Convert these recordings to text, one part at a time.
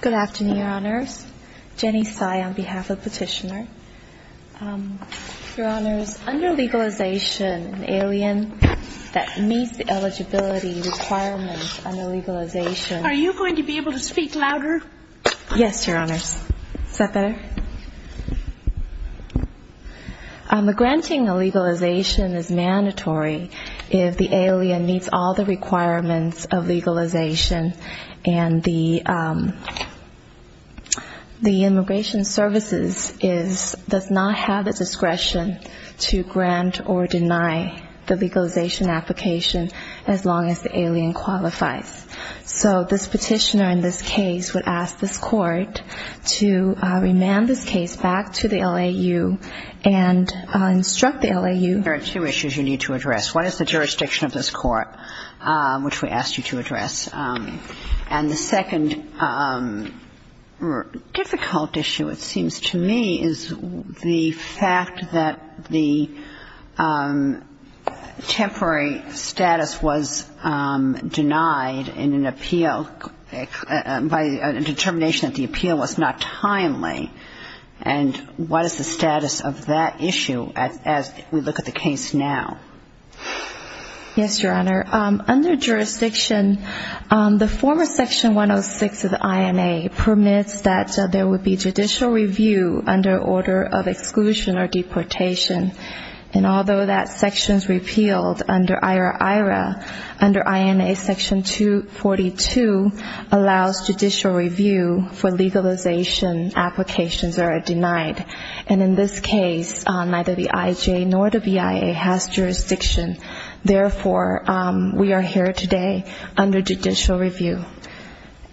Good afternoon, Your Honors. Jenny Tsai on behalf of Petitioner. Your Honors, under legalization, an alien that meets the eligibility requirements under legalization Are you going to be able to speak louder? Yes, Your Honors. Is that better? Granting a legalization is mandatory if the alien meets all the requirements of legalization and the Immigration Services does not have the discretion to grant or deny the legalization application as long as the alien qualifies. So this petitioner in this case would ask this court to remand this case back to the LAU and instruct the LAU. There are two issues you need to address. One is the jurisdiction of this court, which we asked you to address. And the second difficult issue, it seems to me, is the fact that the temporary status was denied in an appeal by a determination that the appeal was not timely. And what is the status of that issue as we look at the case now? Yes, Your Honor. Under jurisdiction, the former section 106 of the INA permits that there would be judicial review under order of exclusion or deportation. And although that section is repealed under IRA-IRA, under INA section 242 allows judicial review for legalization applications that are denied. And in this case, neither the IJA nor the BIA has jurisdiction. Therefore, we are here today under judicial review.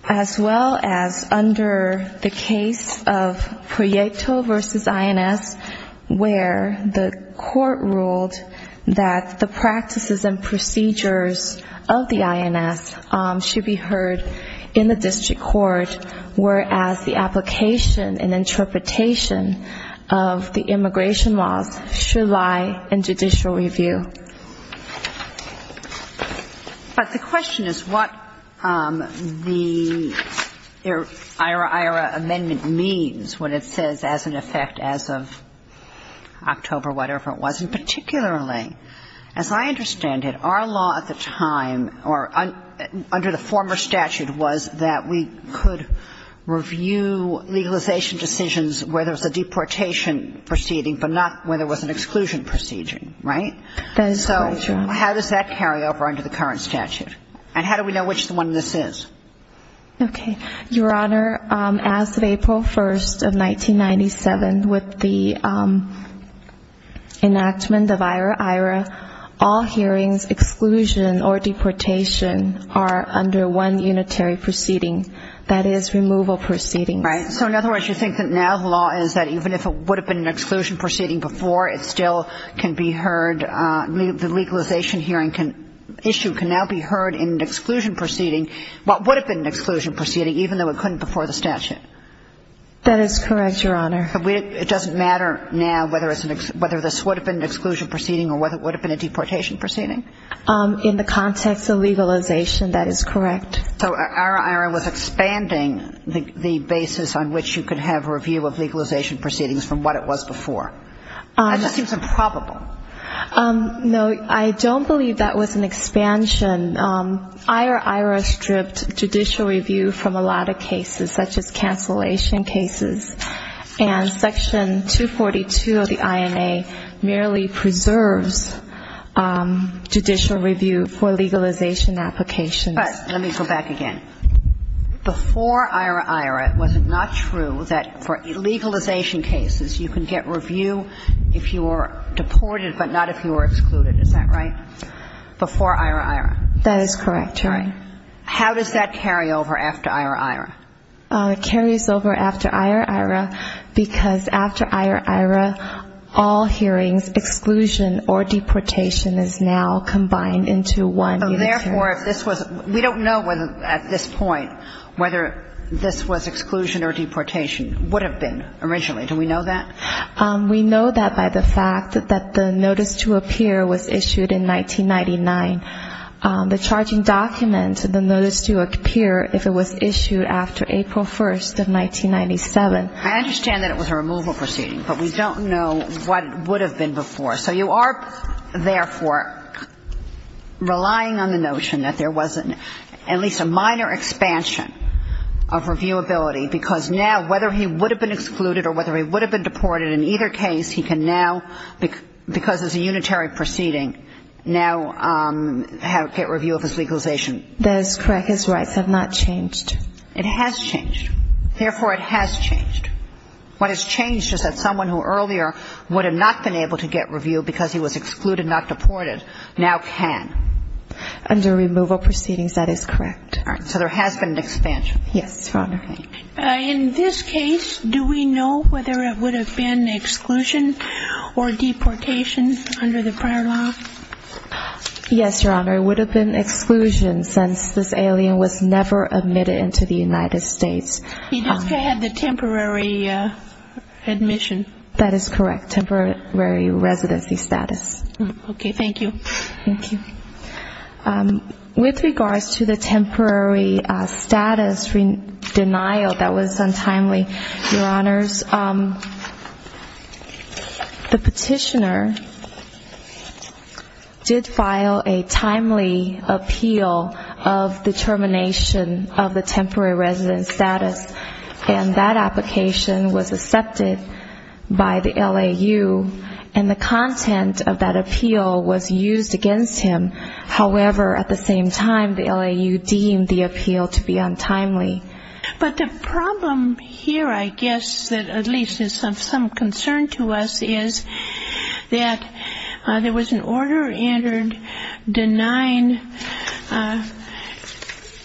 As well as under the case of Proieto v. INS, where the court ruled that the practices and procedures of the INS should be heard in the district court, whereas the application and interpretation of the immigration laws should lie in judicial review. But the question is what the IRA-IRA amendment means when it says as an effect as of October, whatever it was. And particularly, as I understand it, our law at the time, or under the former statute, was that we could review legalization decisions where there was a deportation proceeding, but not where there was an exclusion proceeding, right? That is correct, Your Honor. So how does that carry over under the current statute? And how do we know which one this is? Okay. Your Honor, as of April 1st of 1997, with the enactment of IRA-IRA, all hearings, exclusion, or deportation are under one unitary proceeding. That is, removal proceedings. Right. So in other words, you think that now the law is that even if it would have been an exclusion proceeding before, it still can be heard, the legalization hearing issue can now be heard in an exclusion proceeding, but would have been an exclusion proceeding even though it couldn't before the statute? That is correct, Your Honor. It doesn't matter now whether this would have been an exclusion proceeding or whether it would have been a deportation proceeding? In the context of legalization, that is correct. So IRA-IRA was expanding the basis on which you could have review of legalization proceedings from what it was before. That just seems improbable. No, I don't believe that was an expansion. IRA-IRA stripped judicial review from a lot of cases, such as cancellation cases, and Section 242 of the INA merely preserves judicial review for legalization applications. But let me go back again. Before IRA-IRA, was it not true that for legalization cases you can get review if you are deported but not if you are excluded? Is that right? Before IRA-IRA? That is correct, Your Honor. How does that carry over after IRA-IRA? It carries over after IRA-IRA because after IRA-IRA, all hearings, exclusion or deportation, is now combined into one unitary proceeding. Therefore, if this was we don't know at this point whether this was exclusion or deportation, would have been originally. Do we know that? We know that by the fact that the notice to appear was issued in 1999. The charging document, the notice to appear, if it was issued after April 1st of 1997. I understand that it was a removal proceeding, but we don't know what would have been before. So you are, therefore, relying on the notion that there was at least a minor expansion of reviewability because now whether he would have been excluded or whether he would have been deported, in either case, he can now, because it's a unitary proceeding, now get review of his legalization. That is correct. His rights have not changed. It has changed. Therefore, it has changed. What has changed is that someone who earlier would have not been able to get review because he was excluded, not deported, now can. Under removal proceedings, that is correct. All right. So there has been an expansion. Yes, Your Honor. In this case, do we know whether it would have been exclusion or deportation under the prior law? Yes, Your Honor. It would have been exclusion since this alien was never admitted into the United States. He just had the temporary admission. That is correct. Temporary residency status. Okay. Thank you. Thank you. With regards to the temporary status denial, that was untimely, Your Honors. The petitioner did file a timely appeal of the termination of the temporary resident status, and that application was accepted by the LAU, and the content of that appeal was used against him. However, at the same time, the LAU deemed the appeal to be untimely. But the problem here, I guess, that at least is of some concern to us, is that there was an order entered denying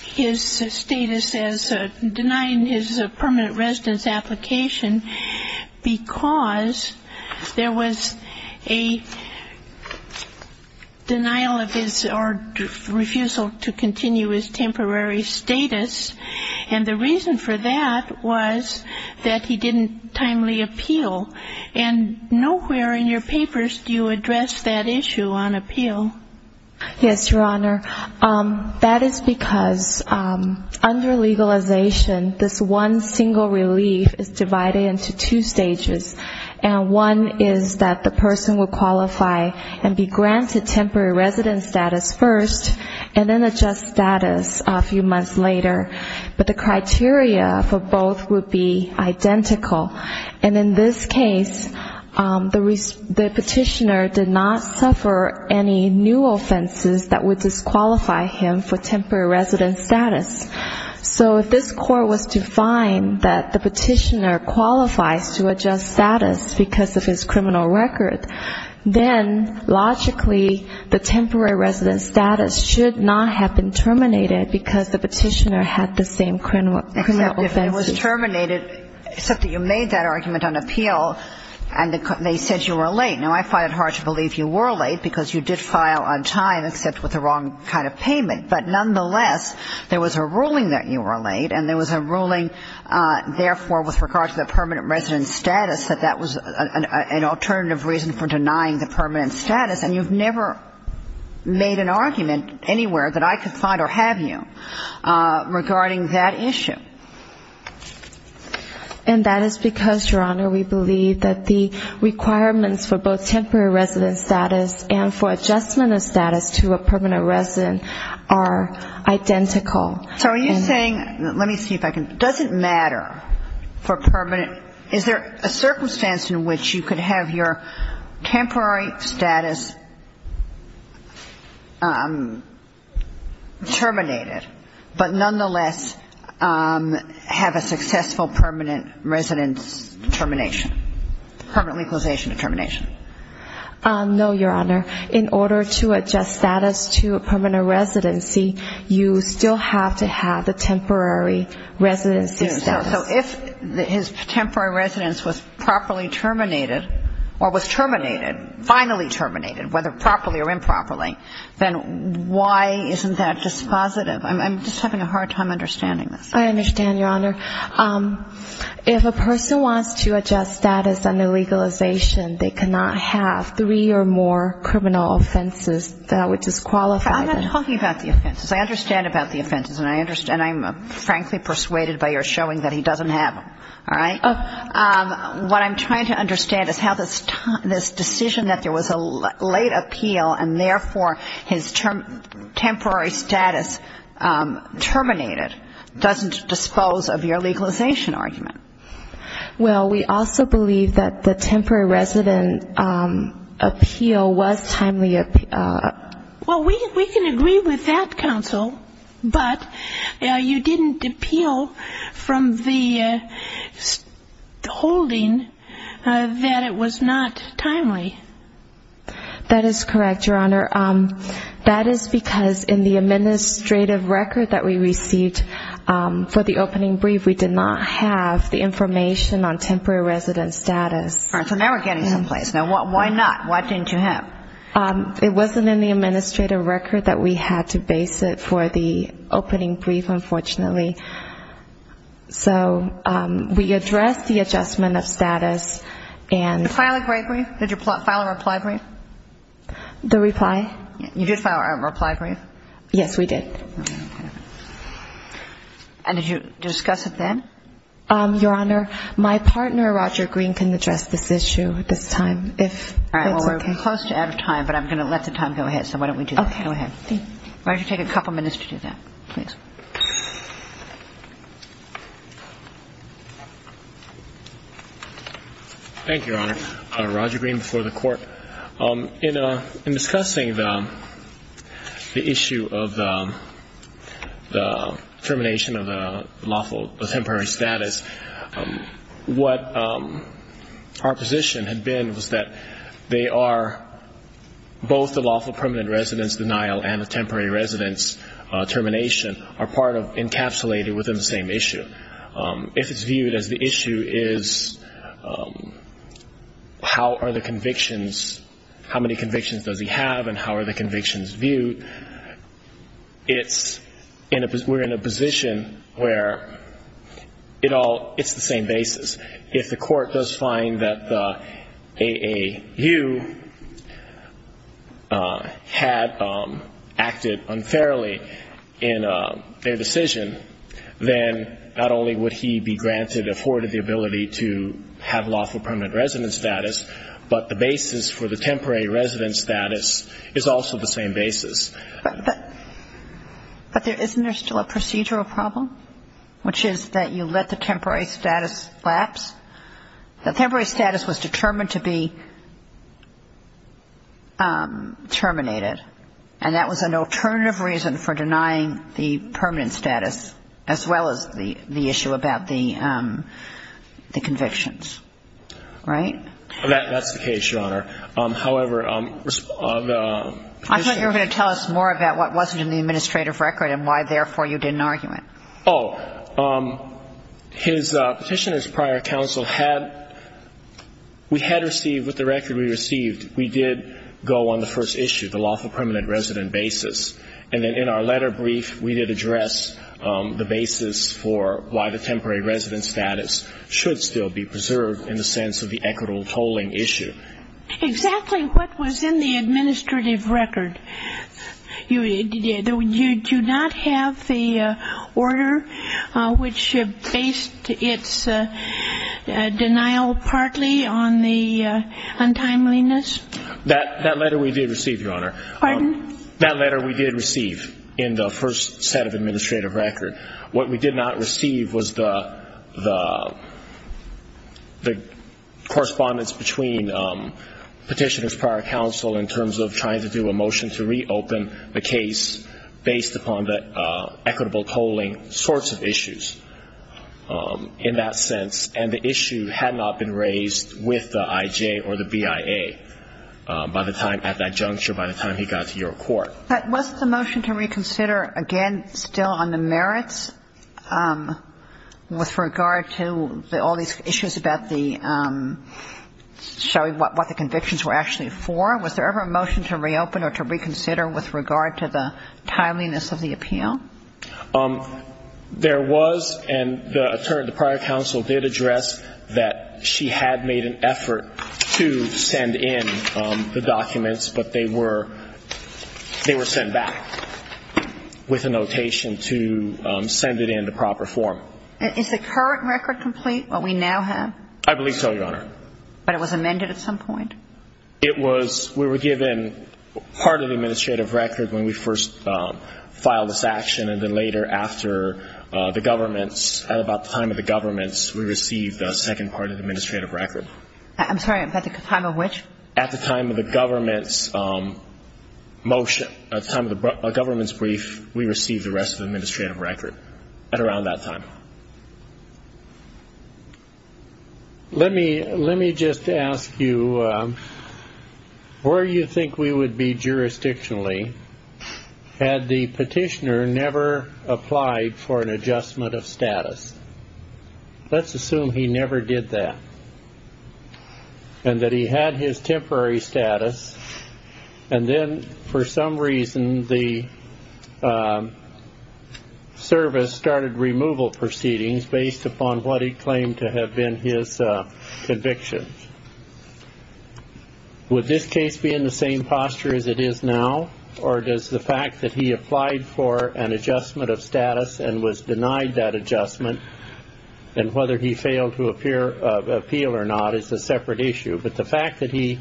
his status as denying his permanent residence application because there was a denial of his or refusal to continue his temporary status, and that was not the case. And the reason for that was that he didn't timely appeal. And nowhere in your papers do you address that issue on appeal. Yes, Your Honor. That is because under legalization, this one single relief is divided into two stages, and one is that the person will qualify and be granted temporary resident status first, and then adjust status a few months later. But the criteria for both would be identical. And in this case, the petitioner did not suffer any new offenses that would disqualify him for temporary resident status. So if this court was to find that the petitioner qualifies to adjust status because of his criminal record, then logically, the temporary resident status should not have been terminated because the petitioner had the same criminal offense. Except it was terminated, except that you made that argument on appeal, and they said you were late. Now, I find it hard to believe you were late because you did file on time, except with the wrong kind of payment. But nonetheless, there was a ruling that you were late, and there was a ruling, therefore, with regard to the permanent resident status, that that was an alternative reason for denying the permanent status. And you've never made an argument anywhere that I could find or have you regarding that issue. And that is because, Your Honor, we believe that the requirements for both temporary resident status and for adjustment of status to a permanent resident are identical. So are you saying, let me see if I can, does it matter for permanent, is there a circumstance in which you could have your temporary status terminated, but nonetheless have a successful permanent residence termination, permanent legalization termination? No, Your Honor. In order to adjust status to a permanent residency, you still have to have the temporary residency status. So if his temporary residence was properly terminated, or was terminated, finally terminated, was terminated, then you still have to have permanent residency status. And if it's not properly, whether properly or improperly, then why isn't that just positive? I'm just having a hard time understanding this. I understand, Your Honor. If a person wants to adjust status under legalization, they cannot have three or more criminal offenses that would disqualify them. I'm not talking about the offenses. I understand about the offenses, and I'm frankly persuaded by your showing that he doesn't have them. All right? What I'm trying to understand is how this decision that there was a late appeal, and therefore his temporary status terminated, doesn't dispose of your legalization argument. Well, we also believe that the temporary resident appeal was timely. Well, we can agree with that, counsel, but you didn't appeal from the holding that it was not timely. That is correct, Your Honor. That is because in the administrative record that we received for the opening brief, we did not have the information on temporary resident status. All right. So now we're getting someplace. Now, why not? Why didn't you have? It wasn't in the administrative record that we had to base it for the opening brief, unfortunately. So we addressed the adjustment of status, and... Did you file a reply brief? The reply? You did file a reply brief? Yes, we did. And did you discuss it then? Your Honor, my partner, Roger Green, can address this issue at this time, if that's okay. I'm close to out of time, but I'm going to let the time go ahead, so why don't we do that? Okay. Go ahead. Roger, take a couple minutes to do that, please. Thank you, Your Honor. Roger Green before the Court. In discussing the issue of the termination of the lawful temporary status, what our position had been was that they are both the lawful permanent residence denial and the temporary residence termination are part of encapsulated within the same issue. If it's viewed as the issue is how many convictions does he have and how are the convictions viewed, we're in a position where it's the same basis. If the Court does find that the AAU had acted unfairly in their decision, then not only would he be granted, afforded the ability to have lawful permanent residence status, but the basis for the temporary residence status is also the same basis. But isn't there still a procedural problem, which is that you let the temporary status lapse? The temporary status was determined to be terminated, and that was an alternative reason for denying the permanent status, as well as the issue about the convictions, right? That's the case, Your Honor. I thought you were going to tell us more about what wasn't in the administrative record and why, therefore, you didn't argue it. Oh. His petitioner's prior counsel had, we had received, with the record we received, we did go on the first issue, the lawful permanent residence basis, and then in our letter brief we did address the basis for why the temporary residence status should still be preserved in the sense of the equitable tolling issue. Exactly what was in the administrative record. You do not have the order which based its denial partly on the untimeliness? That letter we did receive, Your Honor. Pardon? That letter we did receive in the first set of administrative record. What we did not receive was the correspondence between petitioner's prior counsel in terms of trying to do a motion to reopen the case based upon the equitable tolling sorts of issues in that sense, and the issue had not been raised with the IJ or the BIA at that juncture by the time he got to your court. But was the motion to reconsider, again, still on the merits with regard to all these issues about the showing what the convictions were actually for? Was there ever a motion to reopen or to reconsider with regard to the timeliness of the appeal? There was, and the prior counsel did address that she had made an effort to send in the documents, but they were sent back with a notation to send it in to proper form. Is the current record complete, what we now have? I believe so, Your Honor. But it was amended at some point? It was. We were given part of the administrative record when we first filed this action, and then later after the governments, motion, at the time of the governments brief, we received the rest of the administrative record at around that time. Let me just ask you, where do you think we would be jurisdictionally had the petitioner never applied for an adjustment of status? Let's assume he never did that, and that he had his temporary status. And then, for some reason, the service started removal proceedings based upon what he claimed to have been his conviction. Would this case be in the same posture as it is now, or does the fact that he applied for an adjustment of status and was denied that adjustment, and whether he failed to appeal or not, is a separate issue? But the fact that he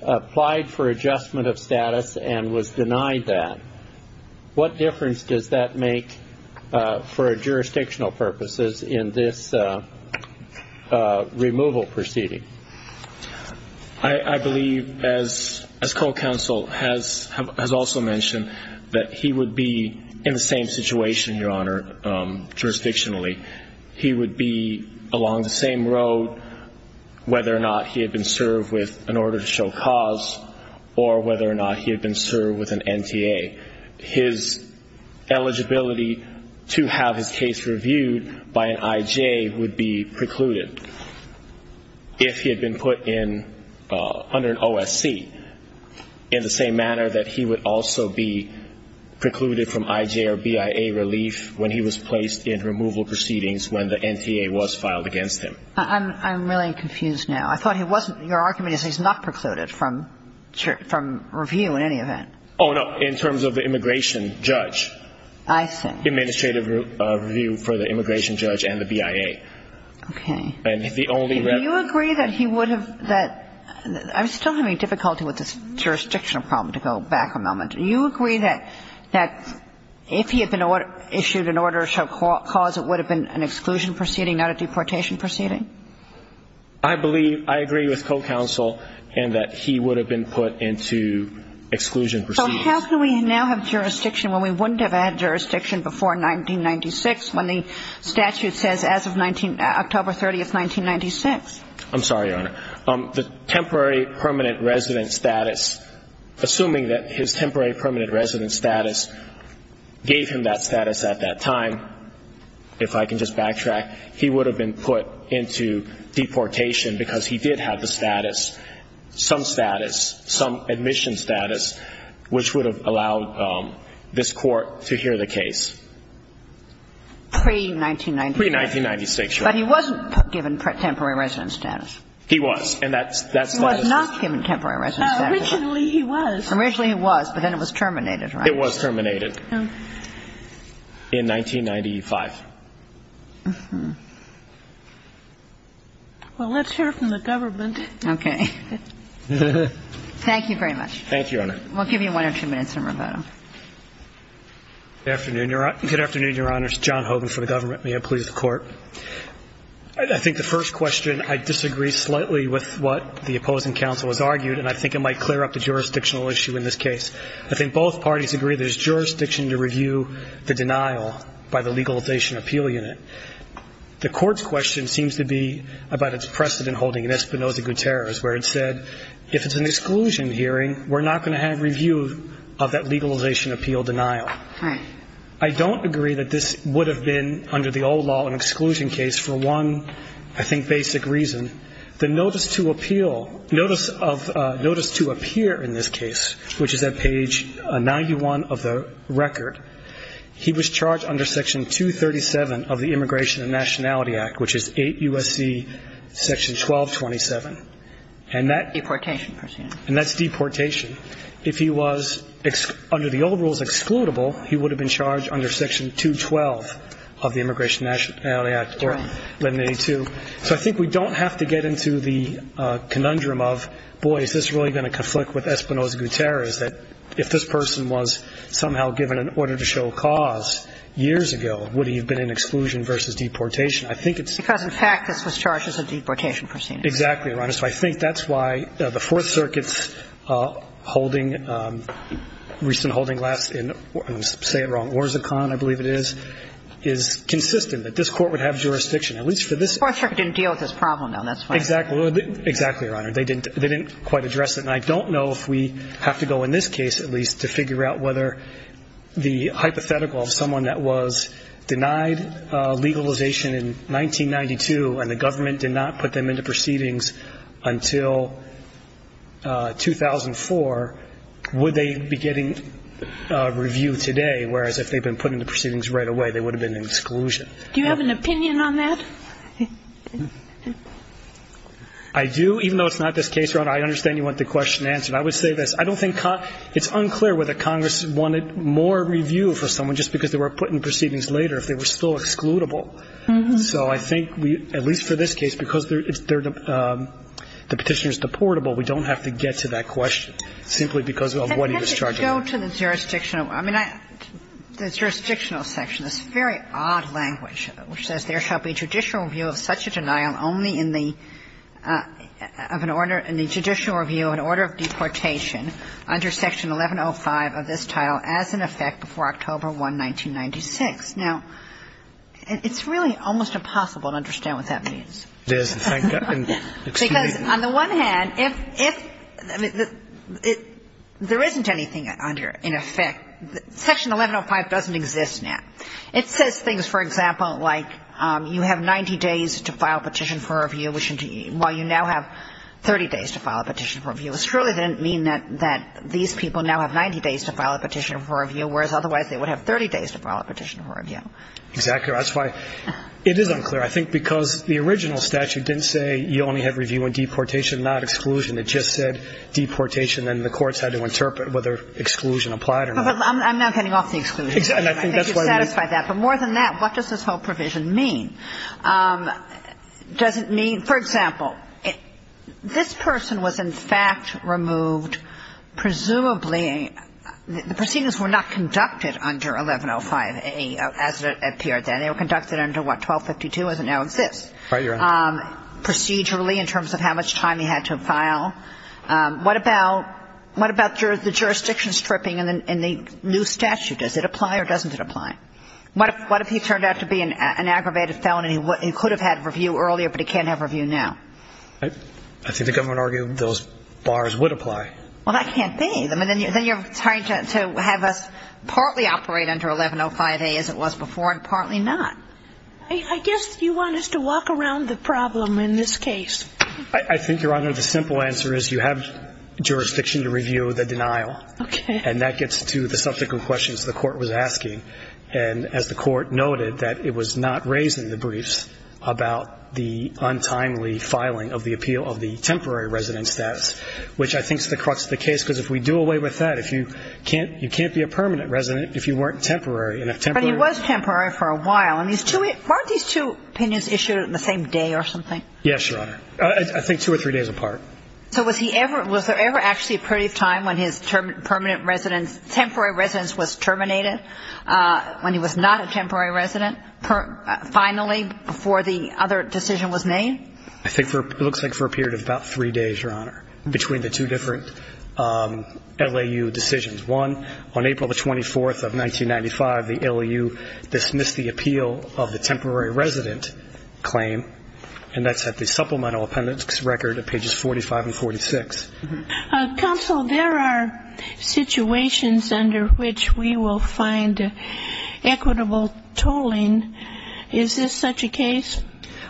applied for adjustment of status and was denied that, what difference does that make for jurisdictional purposes in this removal proceeding? I believe, as co-counsel has also mentioned, that he would be in the same situation, Your Honor, jurisdictionally. He would be along the same road, whether or not he had been served with an order to show cause, or whether or not he had been served with an NTA. His eligibility to have his case reviewed by an IJ would be precluded, if he had been put in under an OSC, in the same manner that he would also be precluded from IJ or BIA relief when he was placed in removal proceedings. And I'm not saying that he would have been put in removal proceedings when the NTA was filed against him. I'm really confused now. I thought he wasn't – your argument is he's not precluded from review in any event. Oh, no, in terms of the immigration judge. I see. Administrative review for the immigration judge and the BIA. Okay. And the only – Do you agree that he would have – I'm still having difficulty with this jurisdictional problem, to go back a moment. Would he have been put in an exclusion proceeding, not a deportation proceeding? I believe – I agree with co-counsel in that he would have been put into exclusion proceedings. So how can we now have jurisdiction when we wouldn't have had jurisdiction before 1996, when the statute says as of October 30th, 1996? I'm sorry, Your Honor. The temporary permanent resident status, assuming that his temporary permanent resident status gave him that status at that time, if I can just backtrack, he would have been put into deportation because he did have the status, some status, some admission status, which would have allowed this Court to hear the case. Pre-1996. Pre-1996, Your Honor. But he wasn't given temporary resident status. He was. And that's – He was not given temporary resident status. Originally he was. Originally he was, but then it was terminated, right? It was terminated. Oh. In 1995. Uh-huh. Well, let's hear it from the government. Okay. Thank you very much. Thank you, Your Honor. We'll give you one or two minutes, then we'll vote on it. Good afternoon, Your Honor. Good afternoon, Your Honors. John Hogan for the government. May it please the Court. I think the first question, I disagree slightly with what the opposing counsel has argued, and I think it might clear up the jurisdictional issue in this case. I think both parties agree there's jurisdiction to review the denial by the legalization appeal unit. The Court's question seems to be about its precedent holding in Espinoza-Gutierrez, where it said if it's an exclusion hearing, we're not going to have review of that legalization appeal denial. Right. I don't agree that this would have been, under the old law, an exclusion case for one, I think, basic reason. The notice to appeal, notice of, notice to appear in this case, which is at page 91 of the record, he was charged under section 237 of the Immigration and Nationality Act, which is 8 U.S.C. section 1227. Deportation, per se. And that's deportation. If he was, under the old rules, excludable, he would have been charged under section 212 of the Immigration and Nationality Act. Right. So I think we don't have to get into the conundrum of, boy, is this really going to conflict with Espinoza-Gutierrez, that if this person was somehow given an order to show cause years ago, would he have been in exclusion versus deportation? I think it's – Because, in fact, this was charged as a deportation proceedings. Exactly, Your Honor. So I think that's why the Fourth Circuit's holding, recent holding last in, say it wrong, Fourth Circuit didn't deal with this problem, though, that's why. Exactly. Exactly, Your Honor. They didn't quite address it. And I don't know if we have to go in this case, at least, to figure out whether the hypothetical of someone that was denied legalization in 1992 and the government did not put them into proceedings until 2004, would they be getting review today, whereas if they'd been put into proceedings right away, they would have been in exclusion. Do you have an opinion on that? I do. Even though it's not this case, Your Honor, I understand you want the question answered. I would say this. I don't think it's unclear whether Congress wanted more review for someone just because they were put into proceedings later, if they were still excludable. So I think we, at least for this case, because the Petitioner is deportable, we don't have to get to that question simply because of what he was charged with. Can we go to the jurisdictional? I mean, the jurisdictional section, this very odd language, which says, there shall be judicial review of such a denial only in the order of the judicial review of an order of deportation under Section 1105 of this title as in effect before October 1, 1996. Now, it's really almost impossible to understand what that means. It is. Because on the one hand, if there isn't anything under in effect, Section 1105 doesn't exist now. It says things, for example, like you have 90 days to file a petition for review, while you now have 30 days to file a petition for review. It surely didn't mean that these people now have 90 days to file a petition for review, whereas otherwise they would have 30 days to file a petition for review. Exactly. That's why it is unclear. I think because the original statute didn't say you only have review in deportation, not exclusion. It just said deportation, and the courts had to interpret whether exclusion applied or not. I'm not getting off the exclusion. I think you've satisfied that. But more than that, what does this whole provision mean? Does it mean, for example, this person was in fact removed presumably the proceedings were not conducted under 1105 as it appeared then. They were conducted under what, 1252 as it now exists? Right, Your Honor. Procedurally in terms of how much time he had to file. What about the jurisdiction stripping in the new statute? Does it apply or doesn't it apply? What if he turned out to be an aggravated felon and he could have had review earlier, but he can't have review now? I think the government argued those bars would apply. Well, that can't be. Then you're trying to have us partly operate under 1105A as it was before and partly not. I guess you want us to walk around the problem in this case. I think, Your Honor, the simple answer is you have jurisdiction to review the denial. Okay. And that gets to the subsequent questions the court was asking. And as the court noted, that it was not raised in the briefs about the untimely filing of the appeal of the temporary resident status, which I think is the crux of the case because if we do away with that, you can't be a permanent resident if you weren't temporary. But he was temporary for a while. Weren't these two opinions issued in the same day or something? Yes, Your Honor. I think two or three days apart. So was there ever actually a period of time when his temporary residence was terminated when he was not a temporary resident finally before the other decision was made? I think it looks like for a period of about three days, Your Honor, between the two different LAU decisions. One, on April the 24th of 1995, the LAU dismissed the appeal of the temporary resident claim, and that's at the supplemental appendix record at pages 45 and 46. Counsel, there are situations under which we will find equitable tolling. Is this such a case?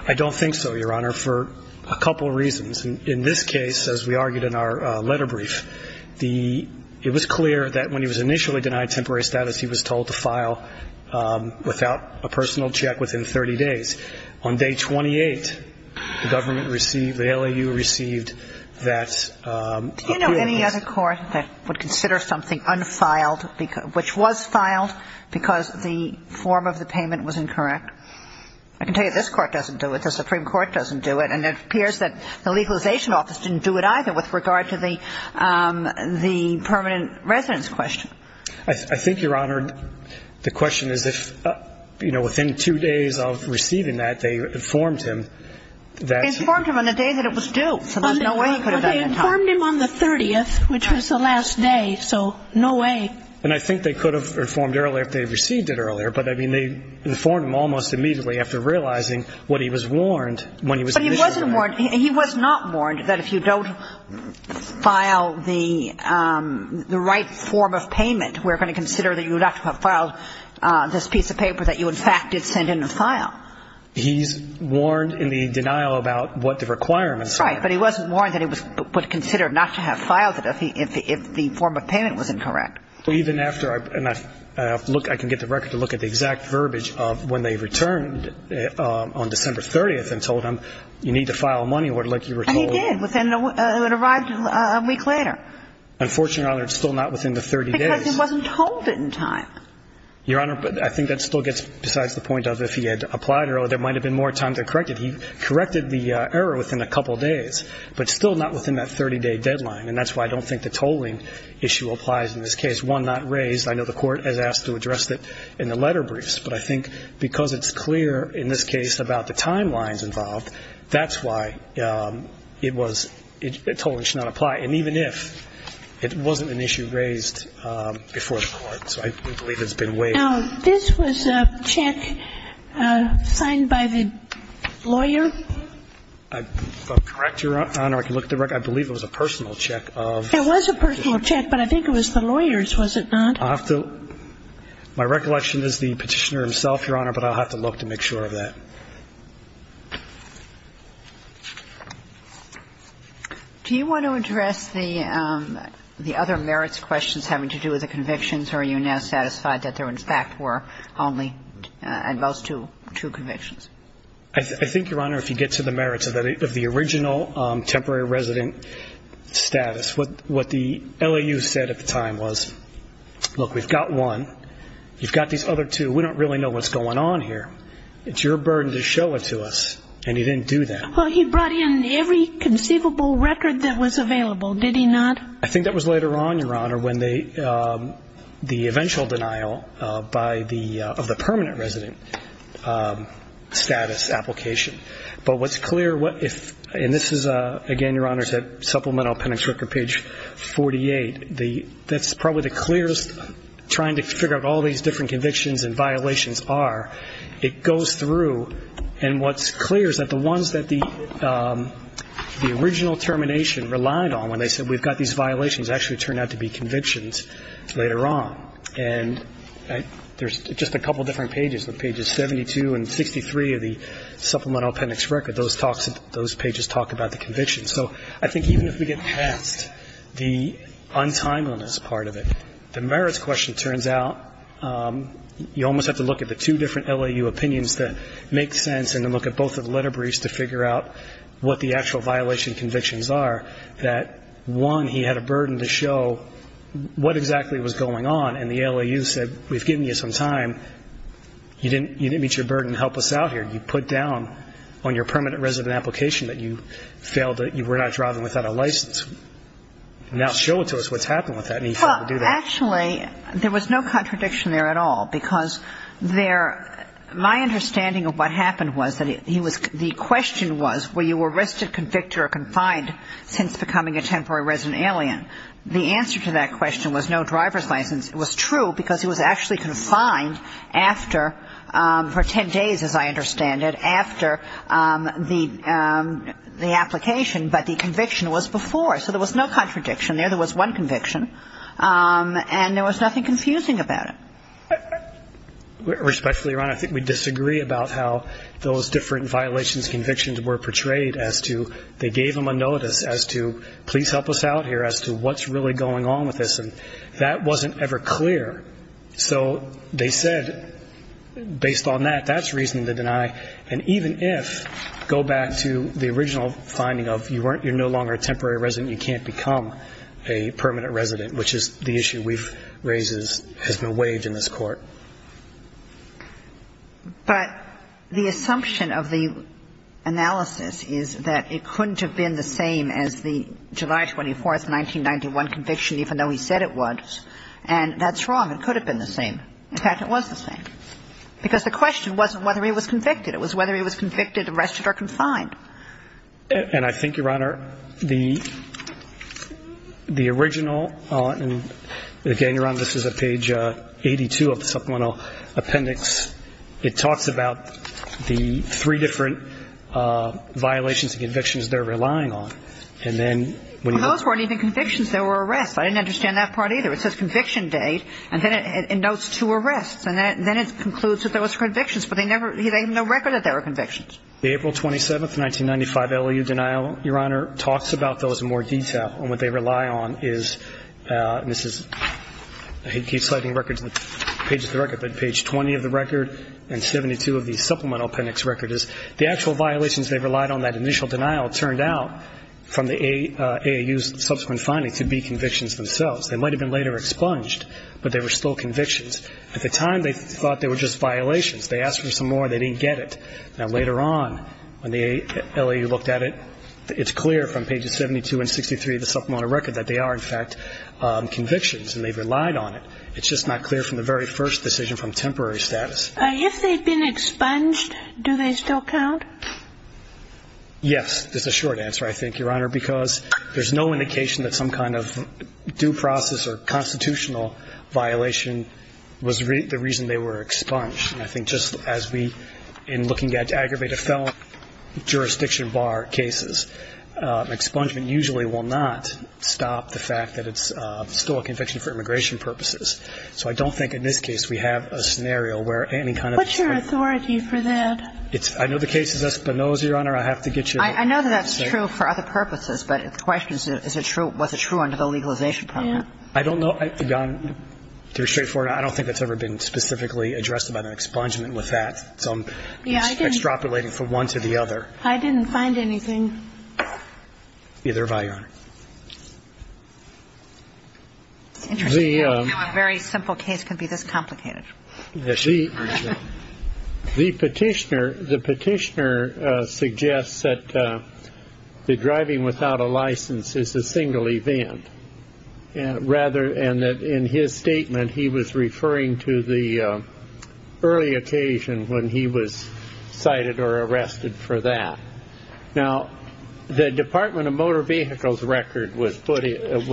I don't think so, Your Honor, for a couple reasons. In this case, as we argued in our letter brief, it was clear that when he was initially denied temporary status, he was told to file without a personal check within 30 days. On day 28, the government received, the LAU received that appeal. Do you know any other court that would consider something unfiled, which was filed because the form of the payment was incorrect? I can tell you this court doesn't do it. The Supreme Court doesn't do it. And it appears that the legalization office didn't do it either with regard to the permanent residence question. I think, Your Honor, the question is if, you know, within two days of receiving that, they informed him that he was due. Well, they informed him on the 30th, which was the last day, so no way. And I think they could have informed earlier if they had received it earlier. But, I mean, they informed him almost immediately after realizing what he was warned when he was initially denied. But he wasn't warned. He was not warned that if you don't file the right form of payment, we're going to consider that you would have to have filed this piece of paper that you, in fact, did send in a file. He's warned in the denial about what the requirements were. Right. But he wasn't warned that it was considered not to have filed it if the form of payment was incorrect. Well, even after, and I look, I can get the record to look at the exact verbiage of when they returned on December 30th and told him you need to file a money order like you were told. And he did. It arrived a week later. Unfortunately, Your Honor, it's still not within the 30 days. Because he wasn't told it in time. Your Honor, I think that still gets besides the point of if he had applied earlier, there might have been more time to correct it. He corrected the error within a couple of days, but still not within that 30-day deadline. And that's why I don't think the tolling issue applies in this case. One, not raised. I know the Court has asked to address that in the letter briefs. But I think because it's clear in this case about the timelines involved, that's why it was, tolling should not apply. And even if it wasn't an issue raised before the Court. So I believe it's been waived. Now, this was a check signed by the lawyer? Correct, Your Honor. I can look at the record. I believe it was a personal check of. It was a personal check, but I think it was the lawyer's, was it not? I'll have to. My recollection is the Petitioner himself, Your Honor, but I'll have to look to make sure of that. Do you want to address the other merits questions having to do with the convictions or are you now satisfied that there, in fact, were only those two convictions? I think, Your Honor, if you get to the merits of the original temporary resident status, what the LAU said at the time was, look, we've got one. You've got these other two. We don't really know what's going on here. It's your burden to show it to us. And he didn't do that. Well, he brought in every conceivable record that was available, did he not? I think that was later on, Your Honor, when the eventual denial by the, of the permanent status application. But what's clear, and this is, again, Your Honor, is that supplemental appendix record, page 48. That's probably the clearest, trying to figure out what all these different convictions and violations are. It goes through, and what's clear is that the ones that the original termination relied on when they said we've got these violations actually turned out to be convictions later on. And there's just a couple different pages. The pages 72 and 63 of the supplemental appendix record, those talks, those pages talk about the convictions. So I think even if we get past the untimeliness part of it, the merits question turns out you almost have to look at the two different LAU opinions that make sense and then look at both of the letter briefs to figure out what the actual violation convictions are, that one, he had a burden to show what exactly was going on. And the LAU said we've given you some time. You didn't meet your burden to help us out here. You put down on your permanent resident application that you failed to, you were not driving without a license. Now show it to us what's happened with that. And he failed to do that. Well, actually, there was no contradiction there at all because there, my understanding of what happened was that he was, the question was were you arrested, convicted or confined since becoming a temporary resident alien. The answer to that question was no driver's license. It was true because he was actually confined after, for ten days as I understand it, after the application, but the conviction was before. So there was no contradiction there. There was one conviction. And there was nothing confusing about it. Respectfully, Your Honor, I think we disagree about how those different violations convictions were portrayed as to they gave him a notice as to please help us out here as to what's really going on with this. And that wasn't ever clear. So they said based on that, that's reason to deny. And even if, go back to the original finding of you're no longer a temporary resident, you can't become a permanent resident, which is the issue we've raised has been waived in this Court. But the assumption of the analysis is that it couldn't have been the same as the July 24th, 1991 conviction, even though he said it was. And that's wrong. It could have been the same. In fact, it was the same. Because the question wasn't whether he was convicted. It was whether he was convicted, arrested or confined. And I think, Your Honor, the original, and again, Your Honor, this is a page 82 of the supplemental appendix. It talks about the three different violations and convictions they're relying on. And then when you look. Those weren't even convictions. They were arrests. I didn't understand that part either. It says conviction date. And then it notes two arrests. And then it concludes that those were convictions. But they never, he had no record that they were convictions. The April 27th, 1995 LOU denial, Your Honor, talks about those in more detail. And what they rely on is, and this is, he keeps sliding records, pages of the record. But page 20 of the record and 72 of the supplemental appendix record is the actual violations they relied on. That initial denial turned out from the AAU's subsequent findings to be convictions themselves. They might have been later expunged, but they were still convictions. At the time, they thought they were just violations. They asked for some more. They didn't get it. Now, later on, when the LOU looked at it, it's clear from pages 72 and 63 of the supplemental record that they are, in fact, convictions. And they've relied on it. It's just not clear from the very first decision from temporary status. If they've been expunged, do they still count? Yes. That's a short answer, I think, Your Honor, because there's no indication that some kind of due process or constitutional violation was the reason they were expunged. I think just as we, in looking at aggravated felon jurisdiction bar cases, expungement usually will not stop the fact that it's still a conviction for immigration purposes. So I don't think in this case we have a scenario where any kind of ---- What's your authority for that? I know the case is Espinoza, Your Honor. I have to get you ---- I know that that's true for other purposes, but the question is, is it true, was it true under the legalization program? I don't know. It's very straightforward. I don't think it's ever been specifically addressed about an expungement with that. It's extrapolating from one to the other. I didn't find anything. Neither have I, Your Honor. I didn't know a very simple case could be this complicated. The petitioner suggests that the driving without a license is a single event, and that in his statement he was referring to the early occasion when he was cited or arrested for that. Now, the Department of Motor Vehicles record was provided,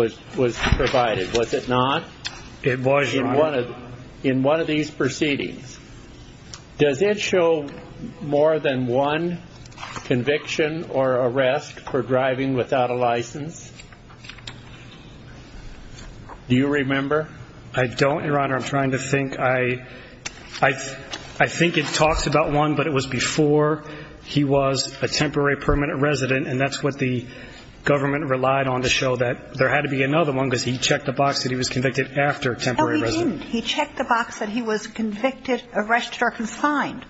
was it not? It was, Your Honor. In one of these proceedings. Does it show more than one conviction or arrest for driving without a license? Do you remember? I don't, Your Honor. I'm trying to think. I think it talks about one, but it was before he was a temporary permanent resident, and that's what the government relied on to show that there had to be another one, because he checked the box that he was convicted after temporary resident. No, he didn't. He checked the box that he was convicted, arrested, or confined.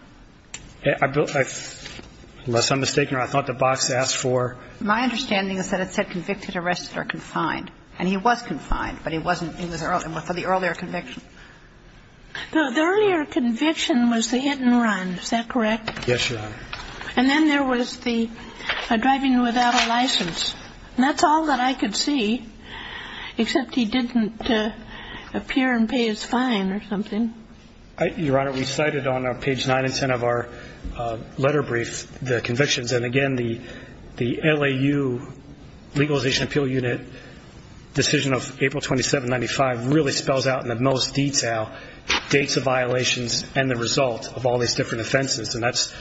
Unless I'm mistaken, Your Honor, I thought the box asked for ---- My understanding is that it said convicted, arrested, or confined. And he was confined, but he wasn't for the earlier conviction. The earlier conviction was the hit and run. Is that correct? Yes, Your Honor. And then there was the driving without a license. And that's all that I could see, except he didn't appear and pay his fine or something. Your Honor, we cited on page 9 and 10 of our letter brief the convictions. And, again, the LAU Legalization Appeal Unit decision of April 27, 1995, really spells out in the most detail dates of violations and the result of all these different offenses. And that's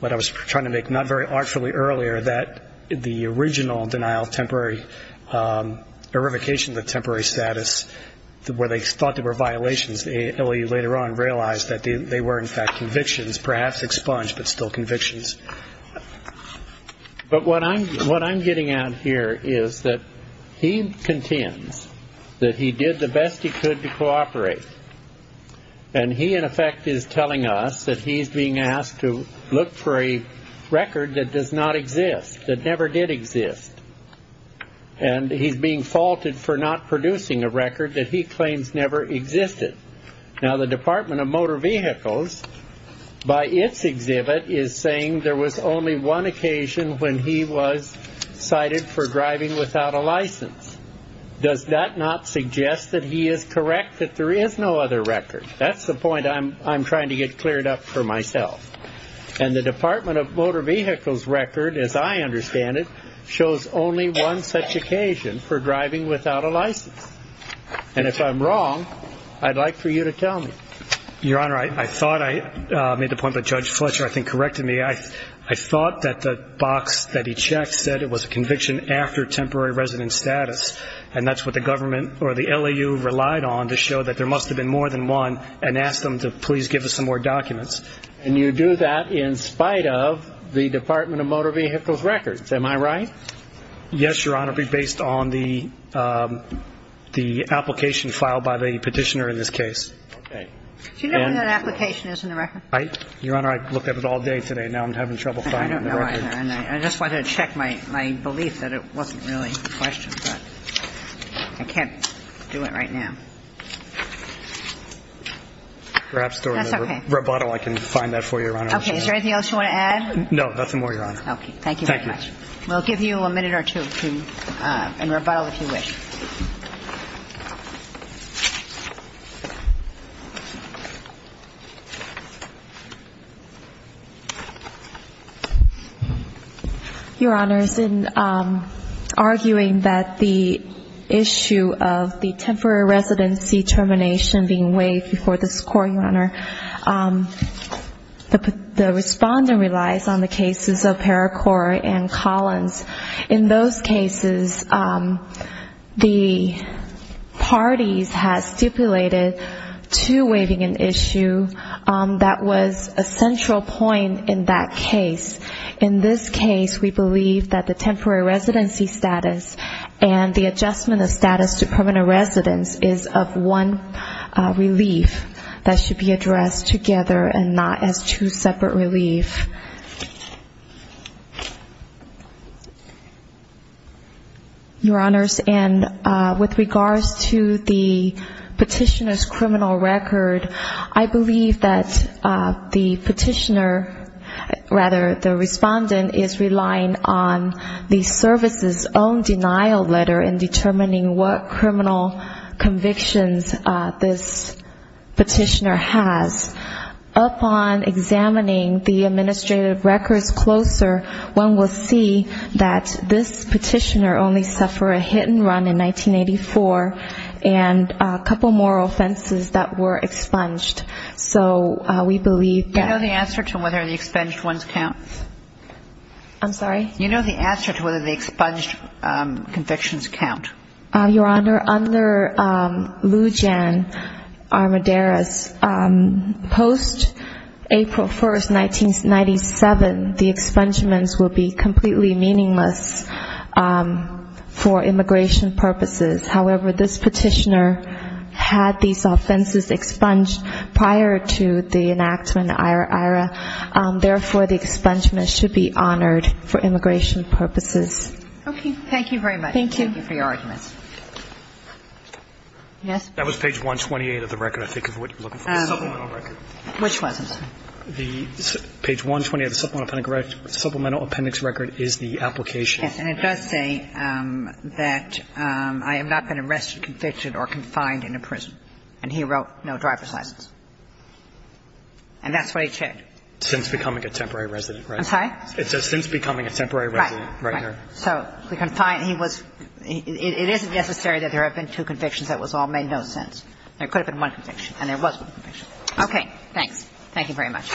what I was trying to make not very artfully earlier, that the original denial of temporary, verification of the temporary status where they thought there were violations, realized that they were, in fact, convictions, perhaps expunged, but still convictions. But what I'm getting at here is that he contends that he did the best he could to cooperate. And he, in effect, is telling us that he's being asked to look for a record that does not exist, that never did exist. And he's being faulted for not producing a record that he claims never existed. Now, the Department of Motor Vehicles, by its exhibit, is saying there was only one occasion when he was cited for driving without a license. Does that not suggest that he is correct, that there is no other record? That's the point I'm trying to get cleared up for myself. And the Department of Motor Vehicles record, as I understand it, shows only one such occasion for driving without a license. And if I'm wrong, I'd like for you to tell me. Your Honor, I thought I made the point that Judge Fletcher, I think, corrected me. I thought that the box that he checked said it was a conviction after temporary resident status, and that's what the government or the LAU relied on to show that there must have been more than one and asked them to please give us some more documents. And you do that in spite of the Department of Motor Vehicles records. Am I right? Yes, Your Honor, based on the application filed by the petitioner in this case. Okay. Do you know when that application is in the record? Your Honor, I looked at it all day today. Now I'm having trouble finding the record. I don't know either. I just wanted to check my belief that it wasn't really a question. But I can't do it right now. That's okay. Roboto, I can find that for you, Your Honor. Okay. Is there anything else you want to add? No, nothing more, Your Honor. Okay. Thank you very much. Thank you. We'll give you a minute or two in Roboto if you wish. Your Honors, in arguing that the issue of the temporary residency termination being waived before the score, Your Honor, the respondent relies on the cases of Paracore and Collins. In those cases, the parties had stipulated to waiving an issue that was a central point in that case. In this case, we believe that the temporary residency status and the adjustment of status to permanent residence is of one relief that should be addressed together and not as two separate relief. Your Honors, and with regards to the petitioner's criminal record, I believe that the petitioner, rather the respondent, is relying on the service's own denial letter in determining what criminal convictions this petitioner has. Upon examining the administrative records closer, one will see that this petitioner only suffered a hit and run in 1984 and a couple more offenses that were expunged. So we believe that... Do you know the answer to whether the expunged ones count? I'm sorry? Do you know the answer to whether the expunged convictions count? Your Honor, under Lujan Armideris, post-April 1st, 1997, the expungements will be completely meaningless for immigration purposes. However, this petitioner had these offenses expunged prior to the enactment, therefore, the expungement should be honored for immigration purposes. Okay. Thank you very much. Thank you. Thank you for your arguments. Yes? That was page 128 of the record, I think, is what you're looking for, the supplemental record. Which was it? Page 128 of the supplemental appendix record is the application. Yes. And it does say that I have not been arrested, convicted, or confined in a prison, and he wrote no driver's license. And that's what he said. Since becoming a temporary resident, right? I'm sorry? It says since becoming a temporary resident. Right. Right. So he was confined. It isn't necessary that there have been two convictions. That was all made no sense. There could have been one conviction, and there was one conviction. Okay. Thanks. Thank you very much.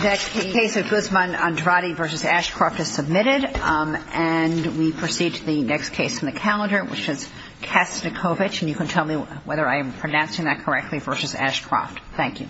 The case of Guzman-Andrade v. Ashcroft is submitted, and we proceed to the next case in the calendar, which is Kastnikovich. And you can tell me whether I am pronouncing that correctly, versus Ashcroft. Thank you.